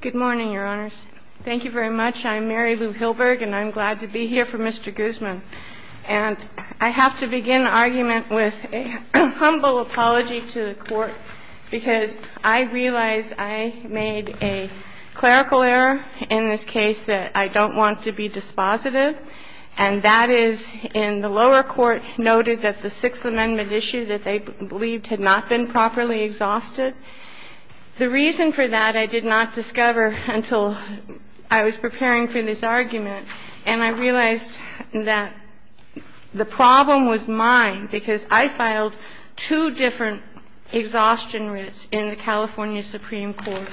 Good morning, Your Honors. Thank you very much. I'm Mary Lou Hilberg, and I'm glad to be here for Mr. Guzman. And I have to begin the argument with a humble apology to the Court, because I realize I made a clerical error in this case that I don't want to be dispositive, and that is in the lower court noted that the Sixth Amendment issue that they believed had not been properly exhausted. The reason for that I did not discover until I was preparing for this argument. And I realized that the problem was mine, because I filed two different exhaustion writs in the California Supreme Court.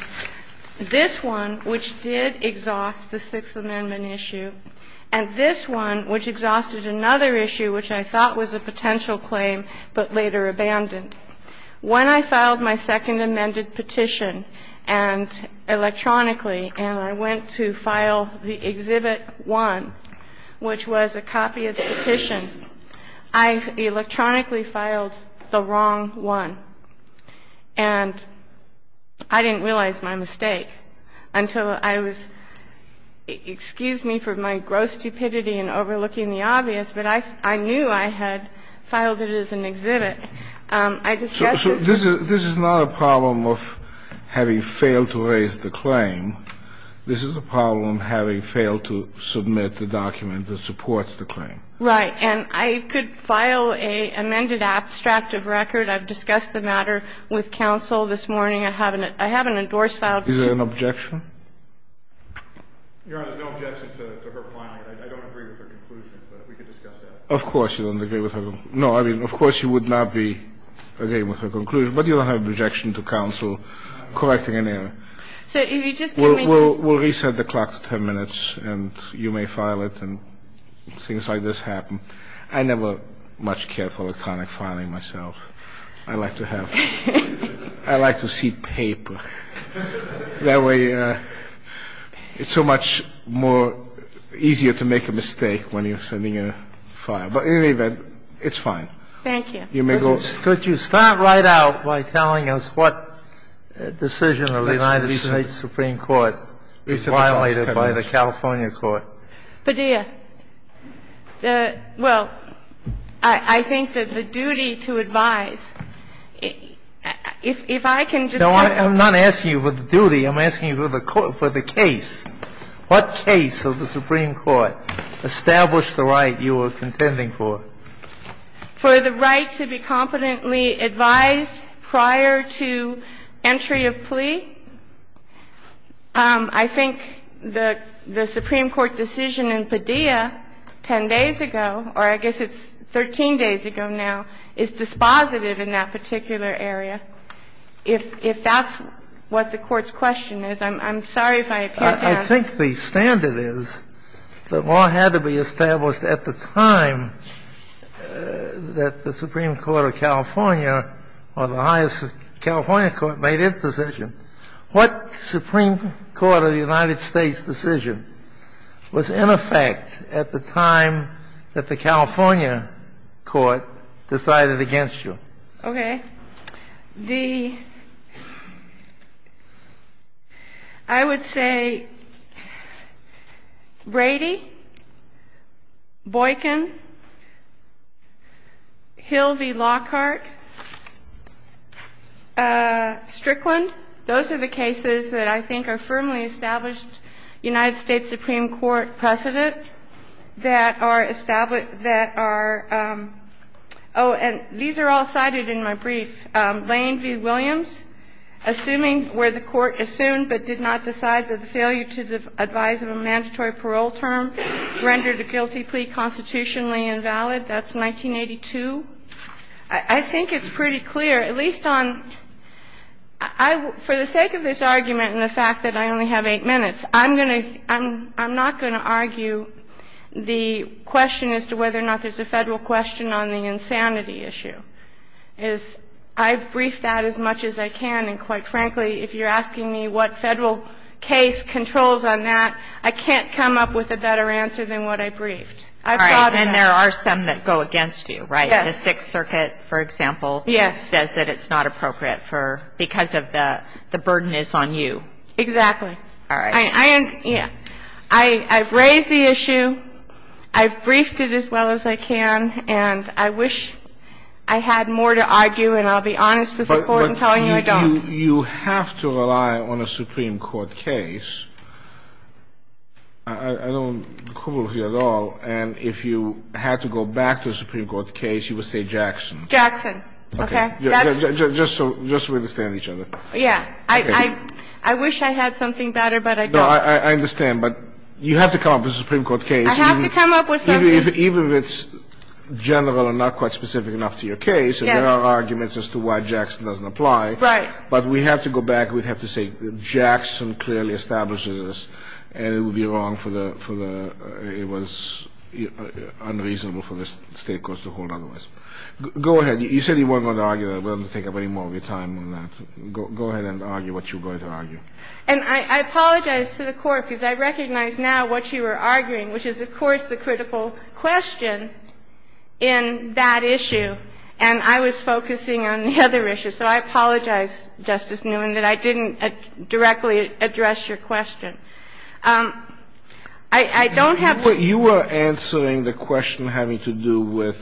This one, which did exhaust the Sixth Amendment issue, and this one, which exhausted another issue which I thought was a potential claim but later abandoned. When I filed my Second Amendment petition, and electronically, and I went to file the Exhibit 1, which was a copy of the petition, I electronically filed the wrong one. And I didn't realize my mistake until I was — excuse me for my gross stupidity in overlooking the obvious, but I knew I had filed it as an exhibit. I discussed it. So this is not a problem of having failed to raise the claim. This is a problem having failed to submit the document that supports the claim. Right. And I could file an amended abstract of record. I've discussed the matter with counsel this morning. I have an endorsed file. Is there an objection? Your Honor, there's no objection to her filing it. I don't agree with her conclusion, but we could discuss that. Of course you don't agree with her. No, I mean, of course you would not be agreeing with her conclusion, but you don't have an objection to counsel correcting an error. So if you just give me — We'll reset the clock to 10 minutes, and you may file it, and things like this happen. I never much care for electronic filing myself. I like to have — I like to see paper. That way it's so much more easier to make a mistake when you're sending a file. But in any event, it's fine. Thank you. You may go. Could you start right out by telling us what decision of the United States Supreme Court violated by the California court? Padilla. Well, I think that the duty to advise, if I can just — No, I'm not asking you for the duty. I'm asking you for the case. What case of the Supreme Court established the right you were contending for? For the right to be competently advised prior to entry of plea. I think the Supreme Court decision in Padilla 10 days ago, or I guess it's 13 days ago now, is dispositive in that particular area. If that's what the Court's question is, I'm sorry if I can't answer. I think the standard is that law had to be established at the time that the Supreme Court of California, or the highest California court, made its decision. What Supreme Court of the United States decision was in effect at the time that the California court decided against you? Okay. The — I would say Brady, Boykin, Hill v. Lockhart, Strickland, those are the cases that I think are firmly established United States Supreme Court precedent that are established that are — oh, and these are all cited in my brief. Lane v. Williams, assuming where the Court assumed but did not decide that the failure to advise of a mandatory parole term rendered a guilty plea constitutionally invalid, that's 1982. I think it's pretty clear, at least on — for the sake of this argument and the fact that I only have eight minutes, I'm going to — I'm not going to argue the question as to whether or not there's a Federal question on the insanity issue. I've briefed that as much as I can, and quite frankly, if you're asking me what Federal case controls on that, I can't come up with a better answer than what I briefed. I've thought about it. All right. And there are some that go against you, right? Yes. The Sixth Circuit, for example, says that it's not appropriate for — because of the — the burden is on you. Exactly. All right. I — yeah. I've raised the issue. I've briefed it as well as I can. And I wish I had more to argue, and I'll be honest with the Court in telling you I don't. But you have to rely on a Supreme Court case. I don't quibble with you at all. And if you had to go back to a Supreme Court case, you would say Jackson. Jackson. Okay. That's — Just so we understand each other. Yeah. Okay. I wish I had something better, but I don't. No, I understand. But you have to come up with a Supreme Court case. I have to come up with something. Even if it's general and not quite specific enough to your case, and there are arguments as to why Jackson doesn't apply. Right. But we have to go back. We have to say Jackson clearly established this, and it would be wrong for the — for the — it was unreasonable for the State courts to hold otherwise. Go ahead. You said you weren't going to argue that. We don't have to take up any more of your time on that. Go ahead and argue what you're going to argue. And I apologize to the Court, because I recognize now what you were arguing, which is, of course, the critical question in that issue. And I was focusing on the other issue. So I apologize, Justice Newman, that I didn't directly address your question. I don't have — But you were answering the question having to do with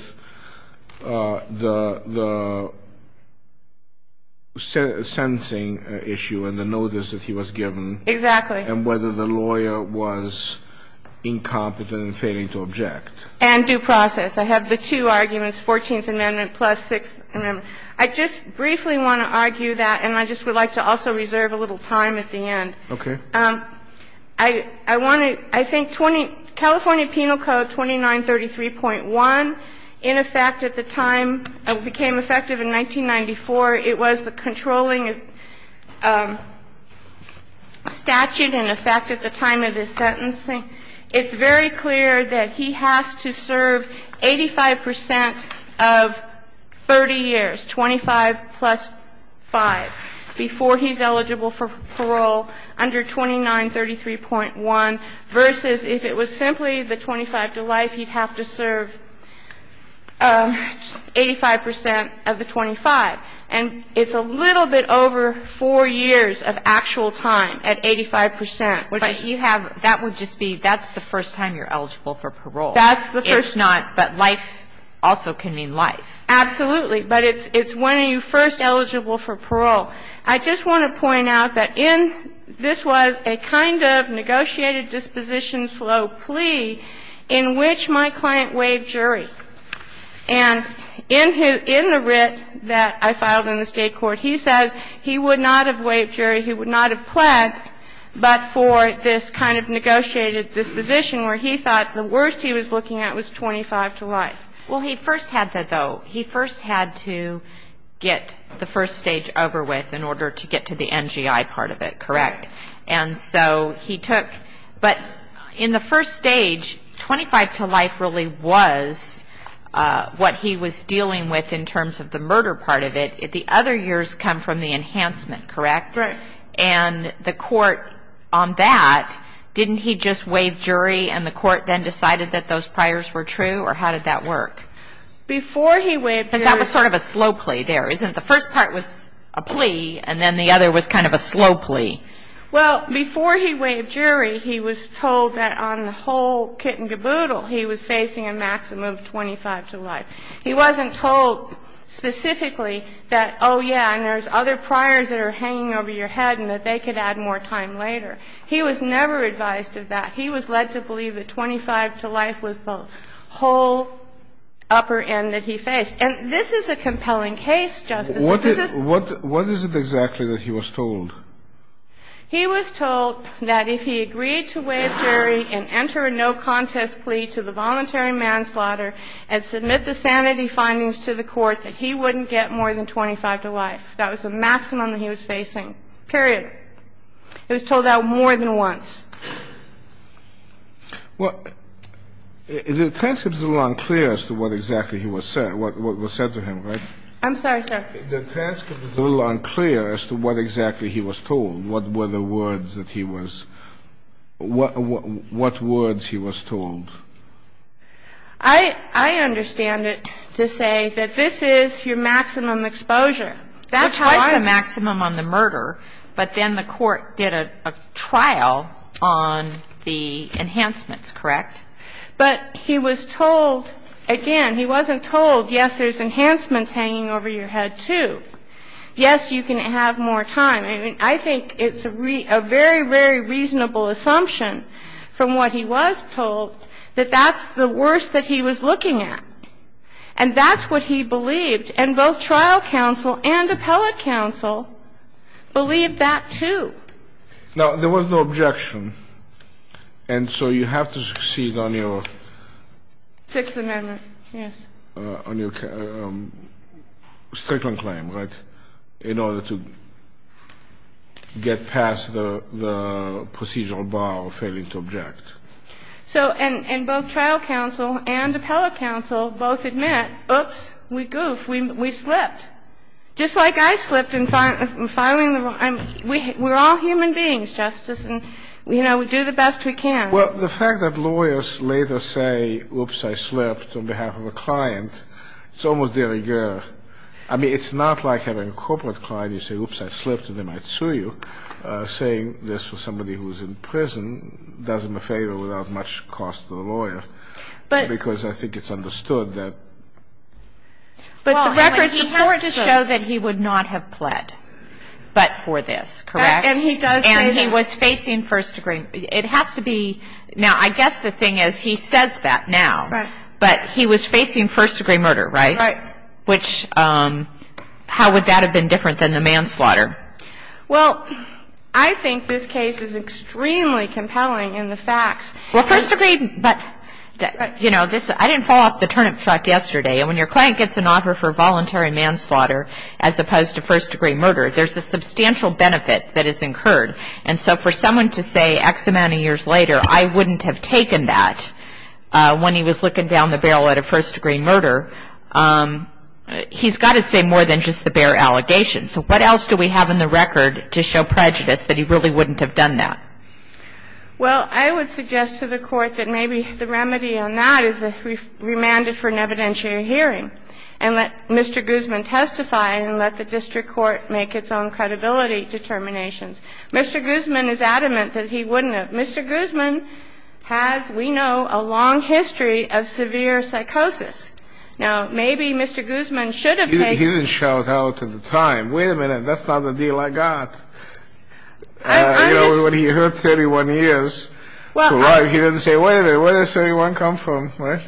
the — the sentencing issue and the notice that he was given. Exactly. And whether the lawyer was incompetent and failing to object. And due process. I have the two arguments, Fourteenth Amendment plus Sixth Amendment. I just briefly want to argue that, and I just would like to also reserve a little time at the end. Okay. I want to — I think 20 — California Penal Code 2933.1, in effect at the time — became effective in 1994. It was the controlling statute in effect at the time of his sentencing. It's very clear that he has to serve 85 percent of 30 years, 25 plus 5, before he's eligible for parole, under 2933.1, versus if it was simply the 25 to life, he'd have to serve 85 percent of the 25. And it's a little bit over 4 years of actual time at 85 percent. But you have — That would just be — that's the first time you're eligible for parole. That's the first time. If not, but life also can mean life. Absolutely. But it's when you're first eligible for parole. I just want to point out that in — this was a kind of negotiated disposition slow plea in which my client waived jury. And in his — in the writ that I filed in the State court, he says he would not have waived jury, he would not have pled, but for this kind of negotiated disposition where he thought the worst he was looking at was 25 to life. Well, he first had to, though. He first had to get the first stage over with in order to get to the NGI part of it. Correct? And so he took — but in the first stage, 25 to life really was what he was dealing with in terms of the murder part of it. The other years come from the enhancement. Correct? Correct. And the court on that, didn't he just waive jury and the court then decided that those priors were true? Or how did that work? Before he waived jury — Because that was sort of a slow plea there, isn't it? The first part was a plea and then the other was kind of a slow plea. Well, before he waived jury, he was told that on the whole kit and caboodle, he was facing a maximum of 25 to life. He wasn't told specifically that, oh, yeah, and there's other priors that are hanging over your head and that they could add more time later. He was never advised of that. He was led to believe that 25 to life was the whole upper end that he faced. And this is a compelling case, Justice. What is it exactly that he was told? He was told that if he agreed to waive jury and enter a no-contest plea to the voluntary manslaughter and submit the sanity findings to the court, that he wouldn't get more than 25 to life. That was the maximum that he was facing, period. He was told that more than once. Well, the transcript is a little unclear as to what exactly he was said, what was said to him, right? I'm sorry, sir. The transcript is a little unclear as to what exactly he was told, what were the words that he was — what words he was told. I understand it to say that this is your maximum exposure. That's right. Twice the maximum on the murder, but then the court did a trial on the enhancements, correct? But he was told, again, he wasn't told, yes, there's enhancements hanging over your head too. Yes, you can have more time. I mean, I think it's a very, very reasonable assumption from what he was told that that's the worst that he was looking at. And that's what he believed, and both trial counsel and appellate counsel believed that too. Now, there was no objection, and so you have to succeed on your — Sixth Amendment, yes. — on your strickland claim, right, in order to get past the procedural bar of failing to object. So — and both trial counsel and appellate counsel both admit, oops, we goof, we slipped. Just like I slipped in filing the — we're all human beings, Justice, and, you know, we do the best we can. Well, the fact that lawyers later say, oops, I slipped, on behalf of a client, it's almost de rigueur. I mean, it's not like having a corporate client. You say, oops, I slipped, and they might sue you. I think that's a reasonable assumption. I think that saying this for somebody who's in prison does him a favor without much cost to the lawyer. But — Because I think it's understood that — But the records — Well, he has to —— show that he would not have pled but for this, correct? And he does say that. And he was facing first-degree — it has to be — now, I guess the thing is he says that now. Right. But he was facing first-degree murder, right? Right. Which — how would that have been different than the manslaughter? Well, I think this case is extremely compelling in the facts. Well, first-degree — but, you know, this — I didn't fall off the turnip truck yesterday. And when your client gets an offer for voluntary manslaughter as opposed to first-degree murder, there's a substantial benefit that is incurred. And so for someone to say X amount of years later, I wouldn't have taken that when he was looking down the barrel at a first-degree murder, he's got to say more than just the bare allegations. So what else do we have in the record to show prejudice that he really wouldn't have done that? Well, I would suggest to the Court that maybe the remedy on that is that we remand it for an evidentiary hearing and let Mr. Guzman testify and let the district court make its own credibility determinations. Mr. Guzman is adamant that he wouldn't have. Mr. Guzman has, we know, a long history of severe psychosis. Now, maybe Mr. Guzman should have taken — He didn't shout out at the time, wait a minute, that's not the deal I got. I just — When he heard 31 years to life, he didn't say, wait a minute, where does 31 come from, right?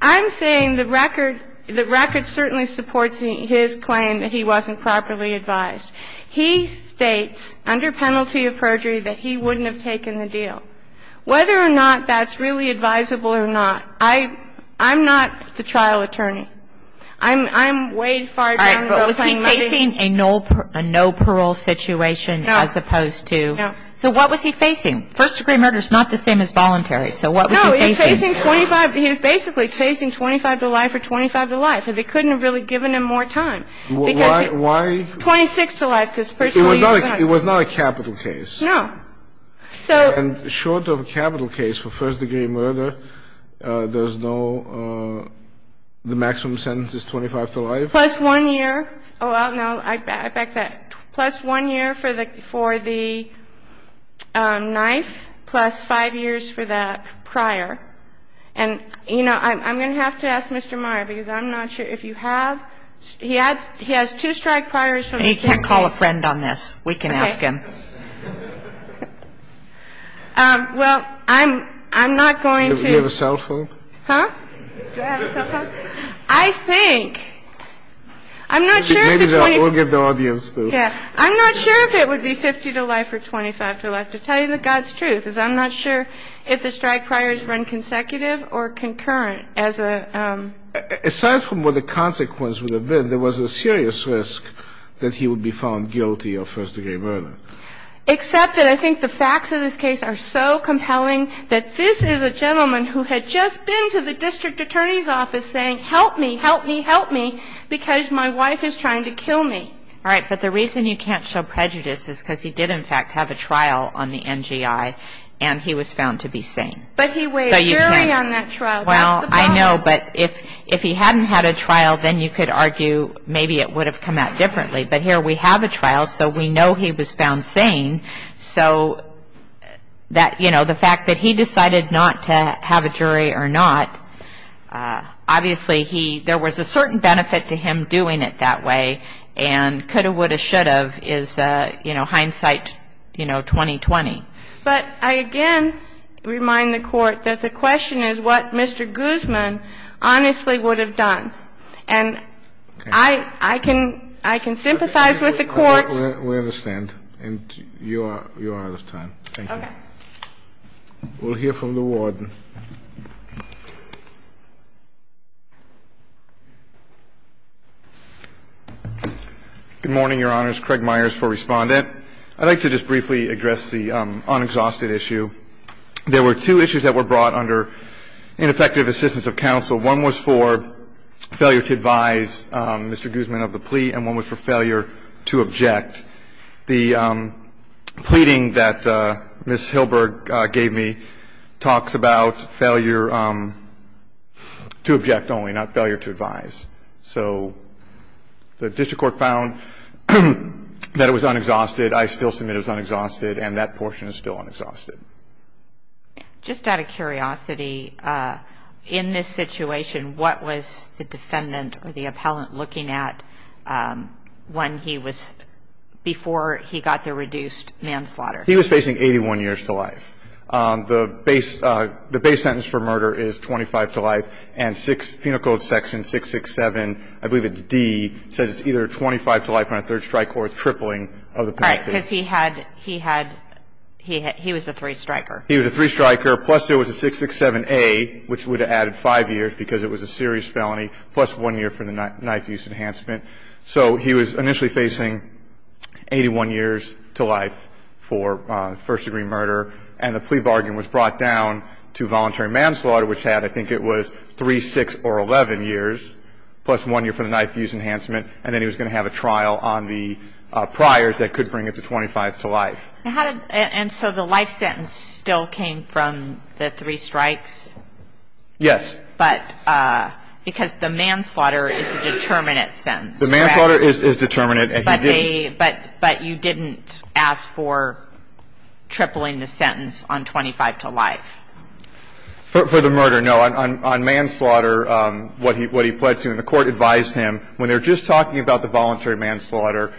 I'm saying the record — the record certainly supports his claim that he wasn't properly advised. He states under penalty of perjury that he wouldn't have taken the deal. Whether or not that's really advisable or not, I'm not the trial attorney. I'm — I'm way far down — All right. But was he facing a no parole situation as opposed to — No. No. So what was he facing? First-degree murder is not the same as voluntary. So what was he facing? No, he was facing 25 — he was basically facing 25 to life or 25 to life. And they couldn't have really given him more time. Because — Why — 26 to life, because personally — It was not a capital case. No. So — And short of a capital case for first-degree murder, there's no — the maximum sentence is 25 to life? Oh. It's past mathematical. Plus one year — oh, no, I — back that… plus one year for the — for the knife, plus five years for the prior. I'm not sure if it would be 50 to life or 25 to life. To tell you the God's truth is I'm not sure if the strike priors run consecutive or concurrent as a… Aside from what the consequence would have been, there was a serious risk that he would be found guilty of first-degree murder. Except that I think the facts of this case are so compelling that this is a gentleman who had just been to the district attorney's office saying, help me, help me, help me, because my wife is trying to kill me. All right. But the reason you can't show prejudice is because he did, in fact, have a trial on the NGI, and he was found to be sane. But he weighed very on that trial. That's the problem. Well, I know. But if he hadn't had a trial, then you could argue maybe it would have come out differently. But here we have a trial, so we know he was found sane. So that, you know, the fact that he decided not to have a jury or not, obviously, there was a certain benefit to him doing it that way. And could have, would have, should have is, you know, hindsight, you know, 20-20. But I again remind the Court that the question is what Mr. Guzman honestly would have done. And I can sympathize with the Court's… You are out of time. Thank you. Okay. We'll hear from the Warden. Good morning, Your Honors. Craig Myers for Respondent. I'd like to just briefly address the unexhausted issue. There were two issues that were brought under ineffective assistance of counsel. One was for failure to advise Mr. Guzman of the plea, and one was for failure to object. The pleading that Ms. Hilberg gave me talks about failure to object only, not failure to advise. So the district court found that it was unexhausted. I still submit it was unexhausted, and that portion is still unexhausted. Just out of curiosity, in this situation, what was the defendant or the appellant looking at when he was, before he got the reduced manslaughter? He was facing 81 years to life. The base sentence for murder is 25 to life, and penal code section 667, I believe it's D, says it's either 25 to life on a third strike or a tripling of the penalty. Right, because he had, he was a three striker. He was a three striker, plus there was a 667A, which would have added five years, because it was a serious felony, plus one year for the knife use enhancement. So he was initially facing 81 years to life for first-degree murder, and the plea bargain was brought down to voluntary manslaughter, which had, I think it was, three, six, or 11 years, plus one year for the knife use enhancement, and then he was going to have a trial on the priors that could bring it to 25 to life. And so the life sentence still came from the three strikes? Yes. But, because the manslaughter is a determinate sentence, correct? The manslaughter is determinate, and he didn't. But you didn't ask for tripling the sentence on 25 to life? For the murder, no. On manslaughter, what he pledged to, and the Court advised him, when they're just talking about the voluntary manslaughter,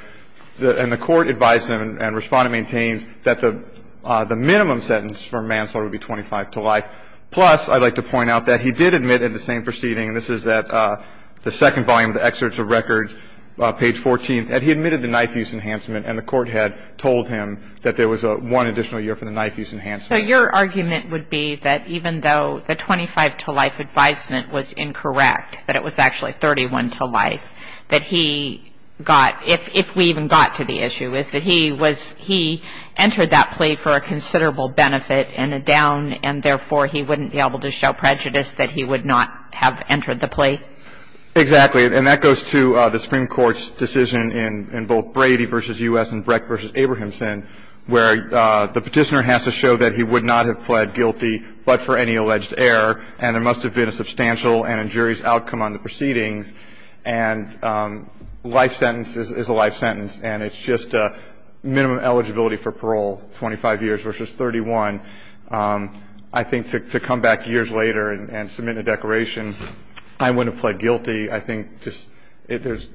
and the Court advised him and Respondent maintains that the minimum sentence for manslaughter would be 25 to life, plus I'd like to point out that he did admit in the same proceeding, and this is at the second volume of the excerpts of records, page 14, that he admitted the knife use enhancement, and the Court had told him that there was one additional year for the knife use enhancement. So your argument would be that even though the 25 to life advisement was incorrect, that it was actually 31 to life, that he got, if we even got to the issue, is that he was, he entered that plea for a considerable benefit and a down, and therefore he wouldn't be able to show prejudice that he would not have entered the plea? Exactly. And that goes to the Supreme Court's decision in both Brady v. U.S. and Breck v. Abrahamson, where the Petitioner has to show that he would not have pled guilty but for any alleged error, and there must have been a substantial and injurious outcome on the proceedings. And life sentence is a life sentence, and it's just minimum eligibility for parole, 25 years versus 31. I think to come back years later and submit a declaration, I wouldn't have pled guilty, I think just there's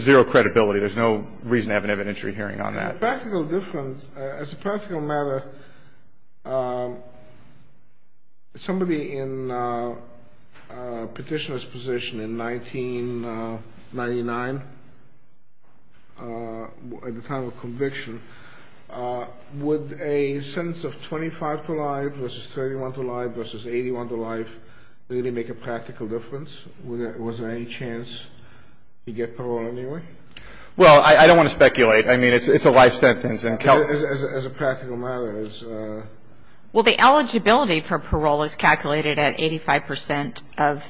zero credibility. There's no reason to have an evidentiary hearing on that. Practical difference, as a practical matter, somebody in Petitioner's position in 1999, at the time of conviction, would a sentence of 25 to life versus 31 to life versus 81 to life really make a practical difference? Was there any chance he'd get parole anyway? Well, I don't want to speculate. I mean, it's a life sentence. As a practical matter. Well, the eligibility for parole is calculated at 85 percent of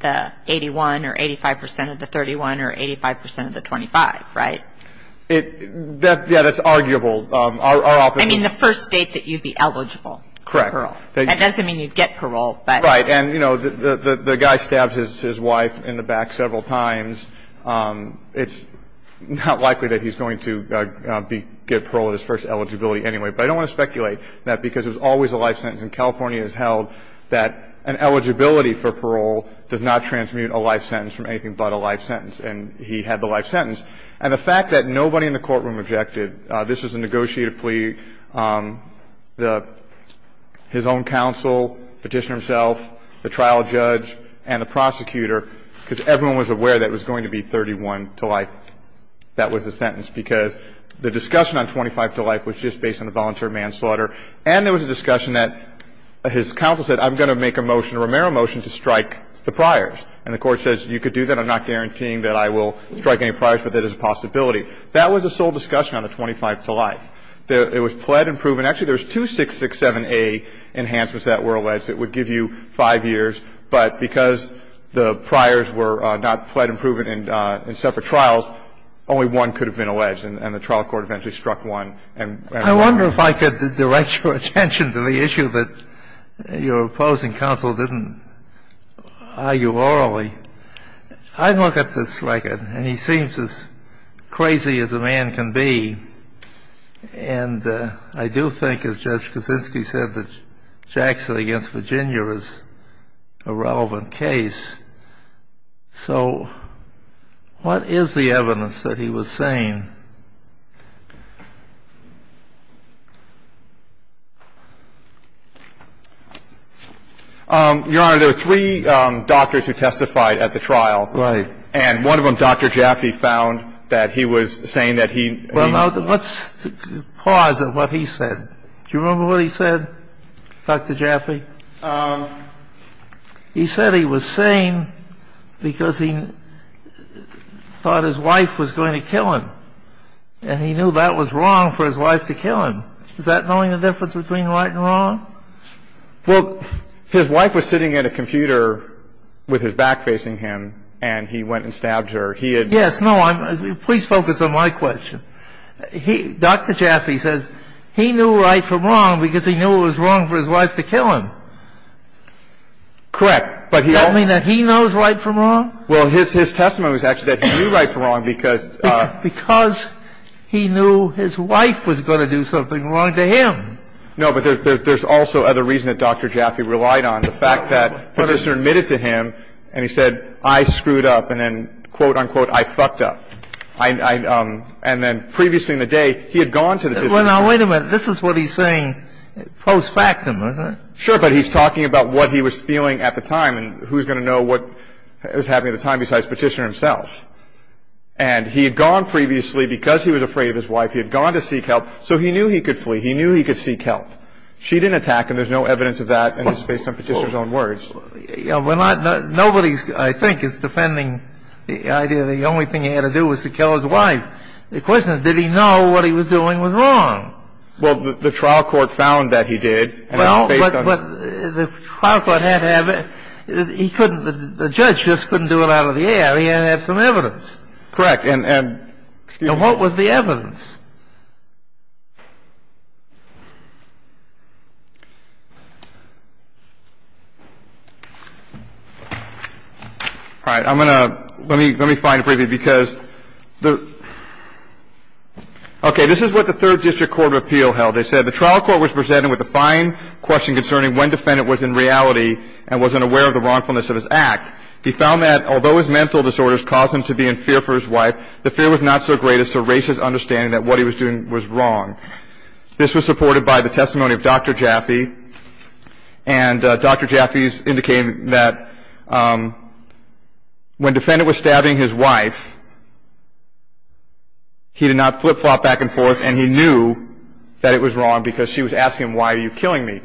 the 81 or 85 percent of the 31 or 85 percent of the 25, right? Yeah, that's arguable. I mean, the first state that you'd be eligible. Correct. That doesn't mean you'd get parole. Right. And, you know, the guy stabbed his wife in the back several times. It's not likely that he's going to get parole at his first eligibility anyway. But I don't want to speculate that because it was always a life sentence. And California has held that an eligibility for parole does not transmute a life sentence from anything but a life sentence. And he had the life sentence. And the fact that nobody in the courtroom objected, this was a negotiated plea. His own counsel, Petitioner himself, the trial judge, and the prosecutor, because everyone was aware that it was going to be 31 to life, that was the sentence. Because the discussion on 25 to life was just based on the voluntary manslaughter. And there was a discussion that his counsel said, I'm going to make a motion, a Romero motion, to strike the priors. And the Court says, you can do that. I'm not guaranteeing that I will strike any priors, but there is a possibility. That was the sole discussion on the 25 to life. It was pled and proven. Actually, there was two 667A enhancements that were alleged that would give you five years. But because the priors were not pled and proven in separate trials, only one could have been alleged. And the trial court eventually struck one. I wonder if I could direct your attention to the issue that your opposing counsel didn't argue orally. I look at this record, and he seems as crazy as a man can be. And I do think, as Judge Kaczynski said, that Jackson against Virginia is a relevant case. So what is the evidence that he was saying? Urn, Your Honor, there are three doctors who testified at the trial. Right. And one of them, Dr. Jaffe, found that he was saying that he. Let's pause at what he said. Do you remember what he said, Dr. Jaffe? He said he was saying because he thought his wife was going to kill him. And he knew that was wrong for his wife to kill him. Is that knowing the difference between right and wrong? Well, his wife was sitting at a computer with his back facing him, and he went and stabbed her. Yes. No, please focus on my question. Dr. Jaffe says he knew right from wrong because he knew it was wrong for his wife to kill him. Correct. Does that mean that he knows right from wrong? Well, his testimony was actually that he knew right from wrong because. Because he knew his wife was going to do something wrong to him. No, but there's also other reason that Dr. Jaffe relied on, the fact that Petitioner admitted to him, and he said, I screwed up, and then, quote, unquote, I fucked up. And then previously in the day, he had gone to the. Well, now, wait a minute. This is what he's saying post-factum, isn't it? Sure, but he's talking about what he was feeling at the time, and who's going to know what was happening at the time besides Petitioner himself. And he had gone previously because he was afraid of his wife. He had gone to seek help, so he knew he could flee. He knew he could seek help. She didn't attack him. There's no evidence of that, and it's based on Petitioner's own words. Well, nobody, I think, is defending the idea that the only thing he had to do was to kill his wife. The question is, did he know what he was doing was wrong? Well, the trial court found that he did. Well, but the trial court had to have. He couldn't. The judge just couldn't do it out of the air. He had to have some evidence. Correct. And what was the evidence? All right. I'm going to – let me find a preview because – okay. This is what the Third District Court of Appeal held. They said, The trial court was presented with a fine question concerning when defendant was in reality and wasn't aware of the wrongfulness of his act. He found that although his mental disorders caused him to be in fear for his wife, the fear was not so great as to erase his understanding that what he was doing was wrong. This was supported by the testimony of Dr. Jaffe, and Dr. Jaffe is indicating that when defendant was stabbing his wife, he did not flip-flop back and forth, and he knew that it was wrong because she was asking him, Why are you killing me?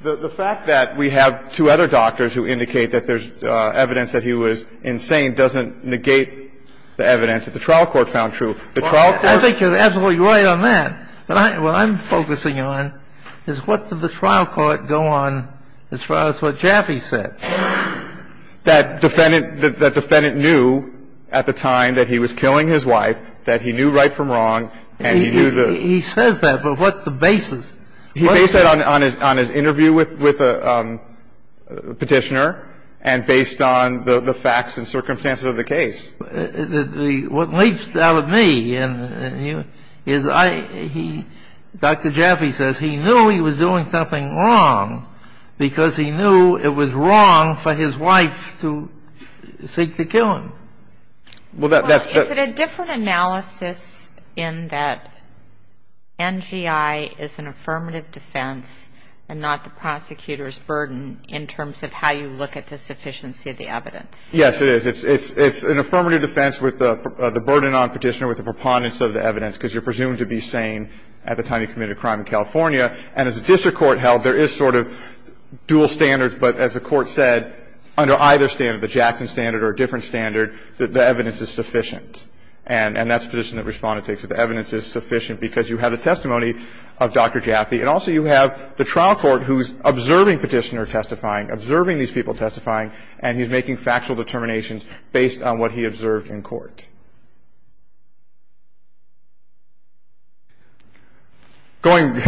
The fact that we have two other doctors who indicate that there's evidence that he was insane doesn't negate the evidence that the trial court found true. The trial court – I think you're absolutely right on that. What I'm focusing on is what did the trial court go on as far as what Jaffe said? That defendant knew at the time that he was killing his wife, that he knew right from wrong, and he knew the – He says that, but what's the basis? He based that on his interview with the petitioner and based on the facts and circumstances of the case. What leaps out at me is Dr. Jaffe says he knew he was doing something wrong because he knew it was wrong for his wife to seek to kill him. Is it a different analysis in that NGI is an affirmative defense and not the prosecutor's burden in terms of how you look at the sufficiency of the evidence? Yes, it is. It's an affirmative defense with the burden on the petitioner with the preponderance of the evidence because you're presumed to be sane at the time he committed a crime in California. And as a district court held, there is sort of dual standards, but as the Court said, under either standard, the Jackson standard or a different standard, that the evidence is sufficient. And that's the position that Respondent takes, that the evidence is sufficient because you have the testimony of Dr. Jaffe, and also you have the trial court who's observing petitioner testifying, observing these people testifying, and he's making factual determinations based on what he observed in court. Going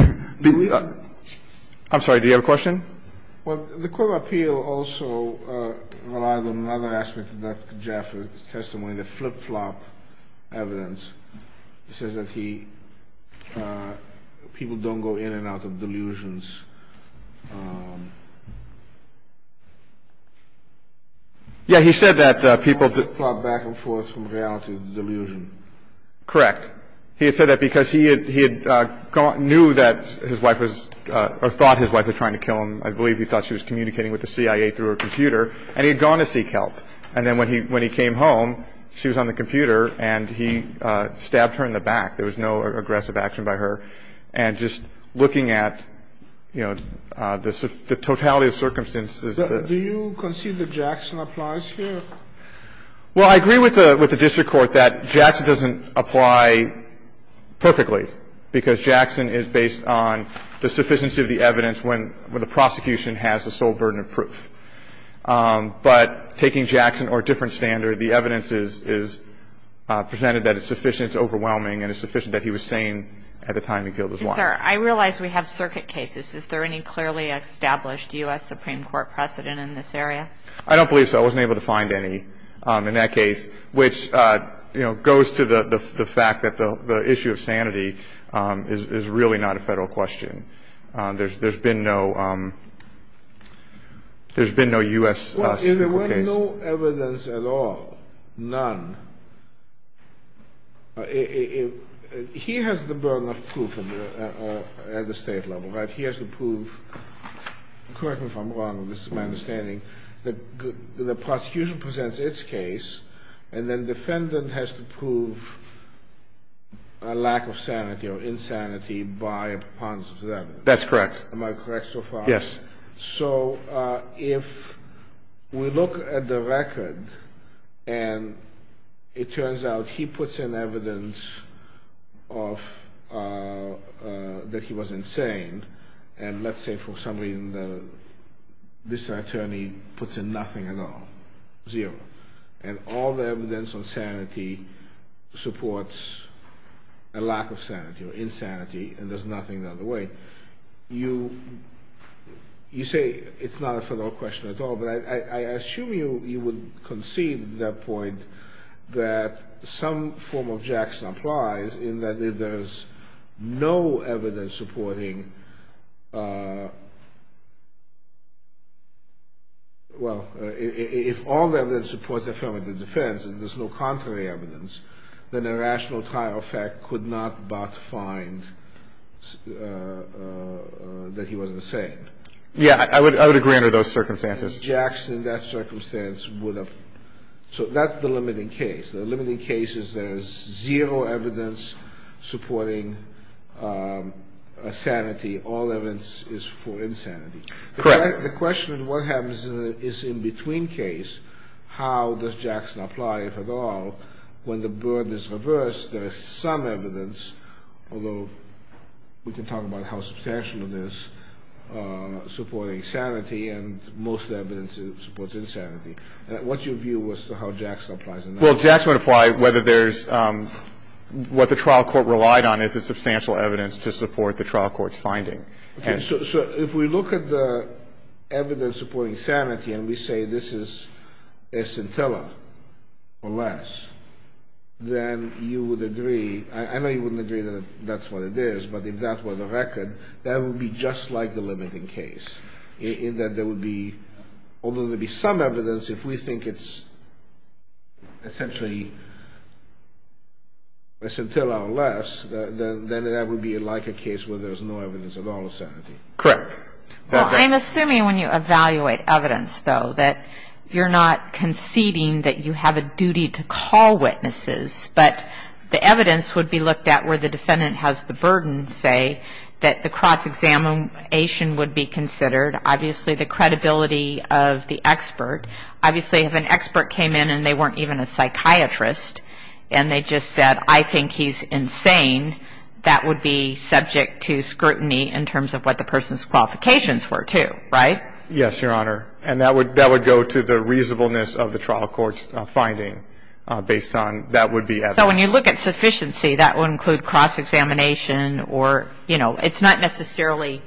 – I'm sorry. Do you have a question? Well, the court of appeal also relied on another aspect of Dr. Jaffe's testimony, the flip-flop evidence. It says that he – people don't go in and out of delusions. Yeah, he said that people flop back and forth from reality to delusion. Correct. He had said that because he had gone – knew that his wife was – or thought his wife was trying to kill him. I believe he thought she was communicating with the CIA through her computer, and he had gone to seek help. And then when he came home, she was on the computer, and he stabbed her in the back. There was no aggressive action by her. And just looking at, you know, the totality of circumstances. Do you concede that Jackson applies here? Well, I agree with the district court that Jackson doesn't apply perfectly, because Jackson is based on the sufficiency of the evidence when the prosecution has the sole burden of proof. But taking Jackson or a different standard, the evidence is presented that it's sufficient, it's overwhelming, and it's sufficient that he was sane at the time he killed his wife. Yes, sir. I realize we have circuit cases. Is there any clearly established U.S. Supreme Court precedent in this area? I don't believe so. I wasn't able to find any in that case, which, you know, goes to the fact that the issue of sanity is really not a Federal question. There's been no U.S. Supreme Court case. Well, if there was no evidence at all, none, he has the burden of proof at the State level, right? He has the proof. Correct me if I'm wrong. This is my understanding. The prosecution presents its case, and then defendant has to prove a lack of sanity or insanity by a preponderance of the evidence. That's correct. Am I correct so far? Yes. So if we look at the record, and it turns out he puts in evidence of that he was saying for some reason that this attorney puts in nothing at all, zero, and all the evidence on sanity supports a lack of sanity or insanity, and there's nothing the other way, you say it's not a Federal question at all, but I assume you would concede that some form of Jackson implies in that if there's no evidence supporting, well, if all evidence supports affirmative defense and there's no contrary evidence, then a rational trial effect could not but find that he was insane. Yeah. I would agree under those circumstances. So that's the limiting case. The limiting case is there's zero evidence supporting sanity, all evidence is for insanity. Correct. The question is what happens in the in-between case, how does Jackson apply, if at all, when the burden is reversed, there is some evidence, although we can talk about how substantial it is, supporting sanity, and most evidence supports insanity. What's your view as to how Jackson applies in that? Well, Jackson would apply whether there's, what the trial court relied on is the substantial evidence to support the trial court's finding. Okay. So if we look at the evidence supporting sanity and we say this is a scintilla or less, then you would agree, I know you wouldn't agree that that's what it is, but if that were the record, that would be just like the limiting case, in that there would be, although there would be some evidence, if we think it's essentially a scintilla or less, then that would be like a case where there's no evidence at all of sanity. Correct. Well, I'm assuming when you evaluate evidence, though, that you're not conceding that you have a duty to call witnesses, but the evidence would be looked at where the defendant has the burden, say, that the cross-examination would be considered. Obviously, the credibility of the expert. Obviously, if an expert came in and they weren't even a psychiatrist and they just said, I think he's insane, that would be subject to scrutiny in terms of what the person's qualifications were, too. Right? Yes, Your Honor. And that would go to the reasonableness of the trial court's finding based on that would be evidence. So when you look at sufficiency, that would include cross-examination or, you know, it's not necessarily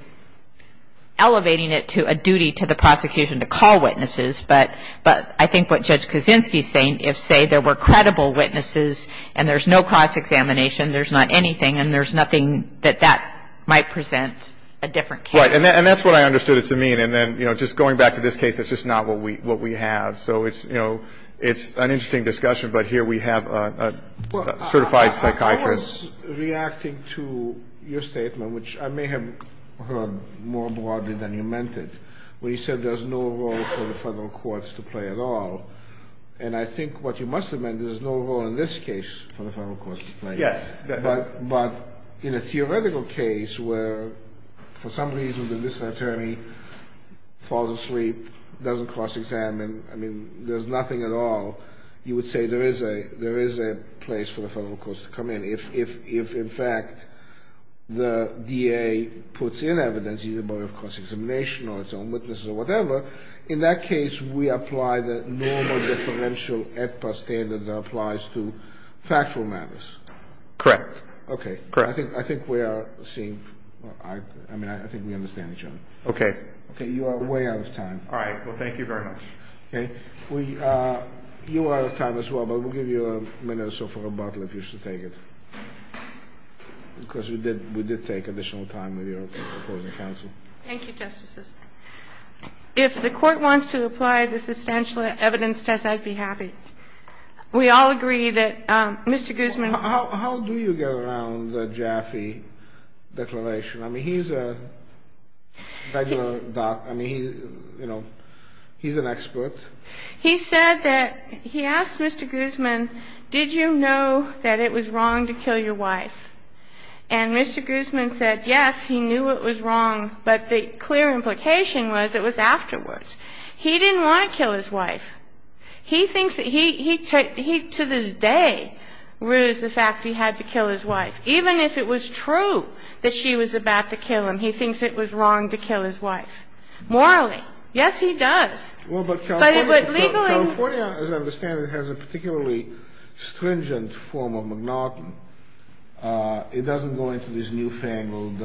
elevating it to a duty to the prosecution to call witnesses, but I think what Judge Kaczynski is saying, if, say, there were credible witnesses and there's no cross-examination, there's not anything, and there's nothing that that might present a different case. Right. And that's what I understood it to mean. And then, you know, just going back to this case, that's just not what we have. So it's, you know, it's an interesting discussion, but here we have a certified psychiatrist. I was reacting to your statement, which I may have heard more broadly than you meant it, where you said there's no role for the federal courts to play at all. And I think what you must have meant is there's no role in this case for the federal courts to play. Yes. But in a theoretical case where, for some reason, the district attorney falls asleep, doesn't cross-examine, I mean, there's nothing at all, you would say there is a place for the federal courts to come in. If, in fact, the DA puts in evidence, either by way of cross-examination or its own witnesses or whatever, in that case, we apply the normal differential AEDPA standard that applies to factual matters. Correct. Okay. Correct. I think we are seeing, I mean, I think we understand each other. Okay. Okay. You are way out of time. All right. Well, thank you very much. Okay. You are out of time as well, but we'll give you a minute or so for rebuttal if you should take it, because we did take additional time with your opposing counsel. Thank you, Justices. If the Court wants to apply the substantial evidence test, I'd be happy. We all agree that Mr. Guzman... How do you get around the Jaffe declaration? I mean, he's a regular doc. I mean, you know, he's an expert. He said that he asked Mr. Guzman, did you know that it was wrong to kill your wife? And Mr. Guzman said, yes, he knew it was wrong, but the clear implication was it was afterwards. He didn't want to kill his wife. He thinks that he, to this day, rules the fact he had to kill his wife, even if it was true that she was about to kill him. He thinks it was wrong to kill his wife, morally. Yes, he does. Well, but California... But it would legally... California, as I understand it, has a particularly stringent form of monotony. It doesn't go into these new-fangled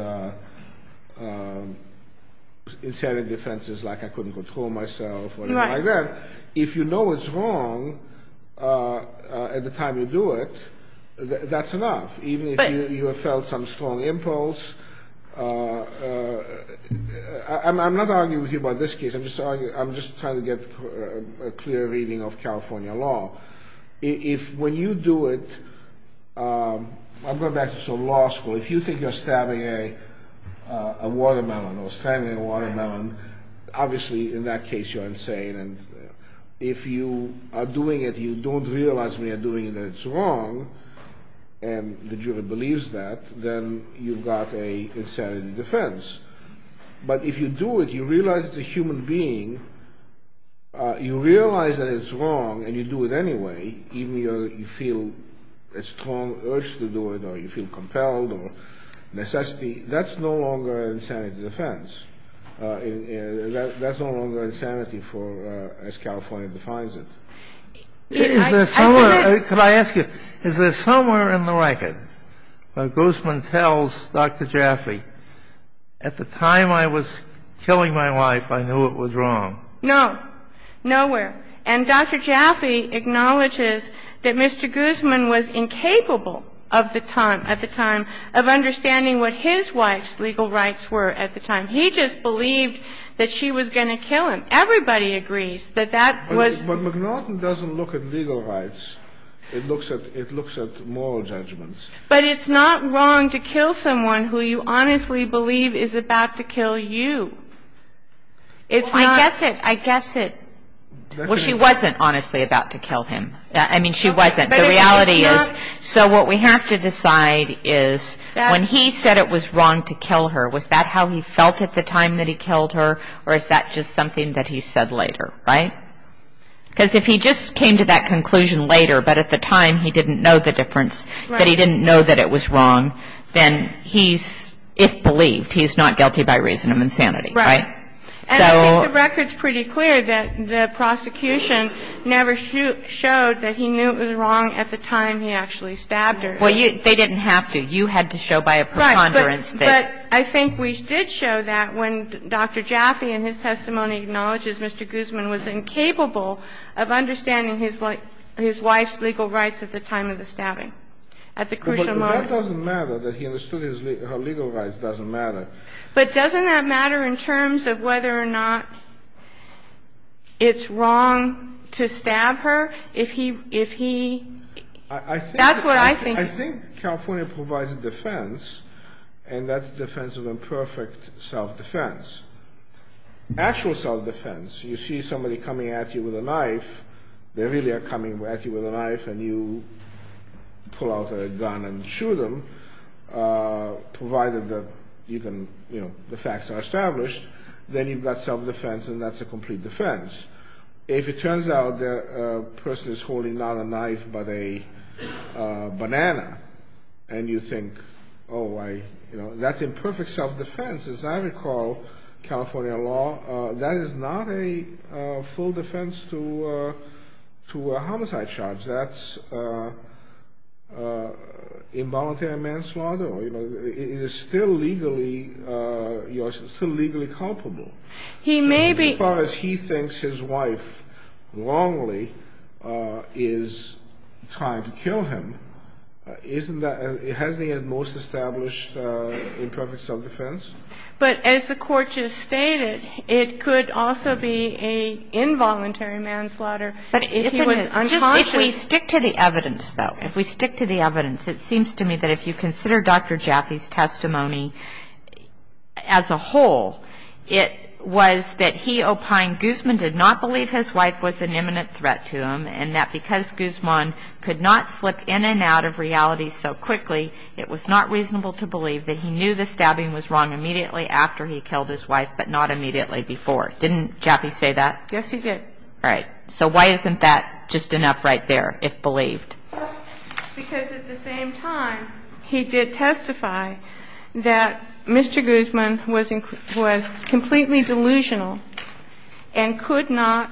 insanity offenses like I couldn't control myself or anything like that. Right. If you know it's wrong at the time you do it, that's enough, even if you have felt some strong impulse. I'm not arguing with you about this case. I'm just trying to get a clear reading of California law. If, when you do it, I'm going back to law school. If you think you're stabbing a watermelon or strangling a watermelon, obviously, in that case, you're insane. And if you are doing it, you don't realize when you're doing it that it's wrong, and the jury believes that, then you've got an insanity defense. But if you do it, you realize it's a human being, you realize that it's wrong, and you do it anyway, even if you feel a strong urge to do it or you feel compelled or necessity, that's no longer an insanity defense. That's no longer insanity for, as California defines it. Do you have any other questions about the defendant? Yes. Can I ask you, is there somewhere in the record that Guzman tells Dr. Jaffe, at the time I was killing my wife, I knew it was wrong? No. Nowhere. And Dr. Jaffe acknowledges that Mr. Guzman was incapable of the time, at the time, of understanding what his wife's legal rights were at the time. He just believed that she was going to kill him. Everybody agrees that that was the case. But McNaughton doesn't look at legal rights. It looks at moral judgments. But it's not wrong to kill someone who you honestly believe is about to kill you. It's not. I guess it. Well, she wasn't honestly about to kill him. I mean, she wasn't. The reality is, so what we have to decide is, when he said it was wrong to kill her, was that how he felt at the time that he killed her, or is that just something that he said later? Right? Because if he just came to that conclusion later, but at the time he didn't know the difference, that he didn't know that it was wrong, then he's, if believed, he's not guilty by reason of insanity. Right. And I think the record's pretty clear that the prosecution never showed that he knew it was wrong at the time he actually stabbed her. Well, they didn't have to. You had to show by a preponderance that. Right. But I think we did show that when Dr. Jaffe in his testimony acknowledges Mr. Guzman was incapable of understanding his wife's legal rights at the time of the stabbing, at the crucial moment. But that doesn't matter, that he understood her legal rights doesn't matter. But doesn't that matter in terms of whether or not it's wrong to stab her if he, if he, that's what I think. I think California provides a defense, and that's the defense of imperfect self-defense. Actual self-defense, you see somebody coming at you with a knife, they really are coming at you with a knife, and you pull out a gun and shoot them, provided that you can, you know, the facts are established. Then you've got self-defense, and that's a complete defense. If it turns out that a person is holding not a knife but a banana, and you think, oh, I, you know, that's imperfect self-defense. As I recall, California law, that is not a full defense to a homicide charge. That's involuntary manslaughter, or, you know, it is still legally, you know, it's still legally culpable. He may be. As far as he thinks his wife wrongly is trying to kill him, isn't that, hasn't he had the most established imperfect self-defense? But as the Court just stated, it could also be an involuntary manslaughter if he was unconscious. If we stick to the evidence, though, if we stick to the evidence, it seems to me that if you consider Dr. Jaffe's testimony as a whole, it was that he opined Guzman did not believe his wife was an imminent threat to him, and that because Guzman could not slip in and out of reality so quickly, it was not reasonable to believe that he knew the stabbing was wrong immediately after he killed his wife but not immediately before. Didn't Jaffe say that? Yes, he did. All right. So why isn't that just enough right there, if believed? Because at the same time, he did testify that Mr. Guzman was completely delusional and could not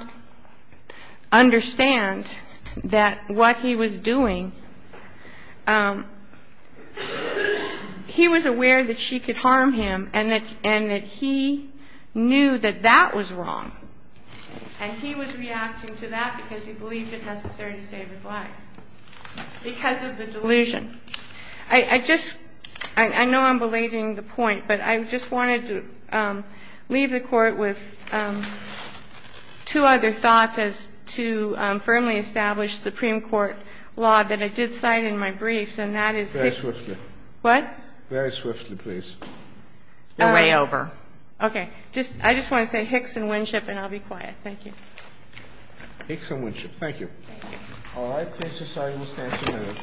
understand that what he was doing, he was aware that she could harm him and that he knew that that was wrong. And he was reacting to that because he believed it necessary to save his life, because of the delusion. I just – I know I'm belating the point, but I just wanted to leave the Court with two other thoughts as to firmly establish Supreme Court law that I did cite in my briefs, and that is Hicks and Winship. Very swiftly. What? Very swiftly, please. You're way over. Okay. I just want to say Hicks and Winship, and I'll be quiet. Thank you. Hicks and Winship. Thank you. All right. Case decided. We'll stand some minutes.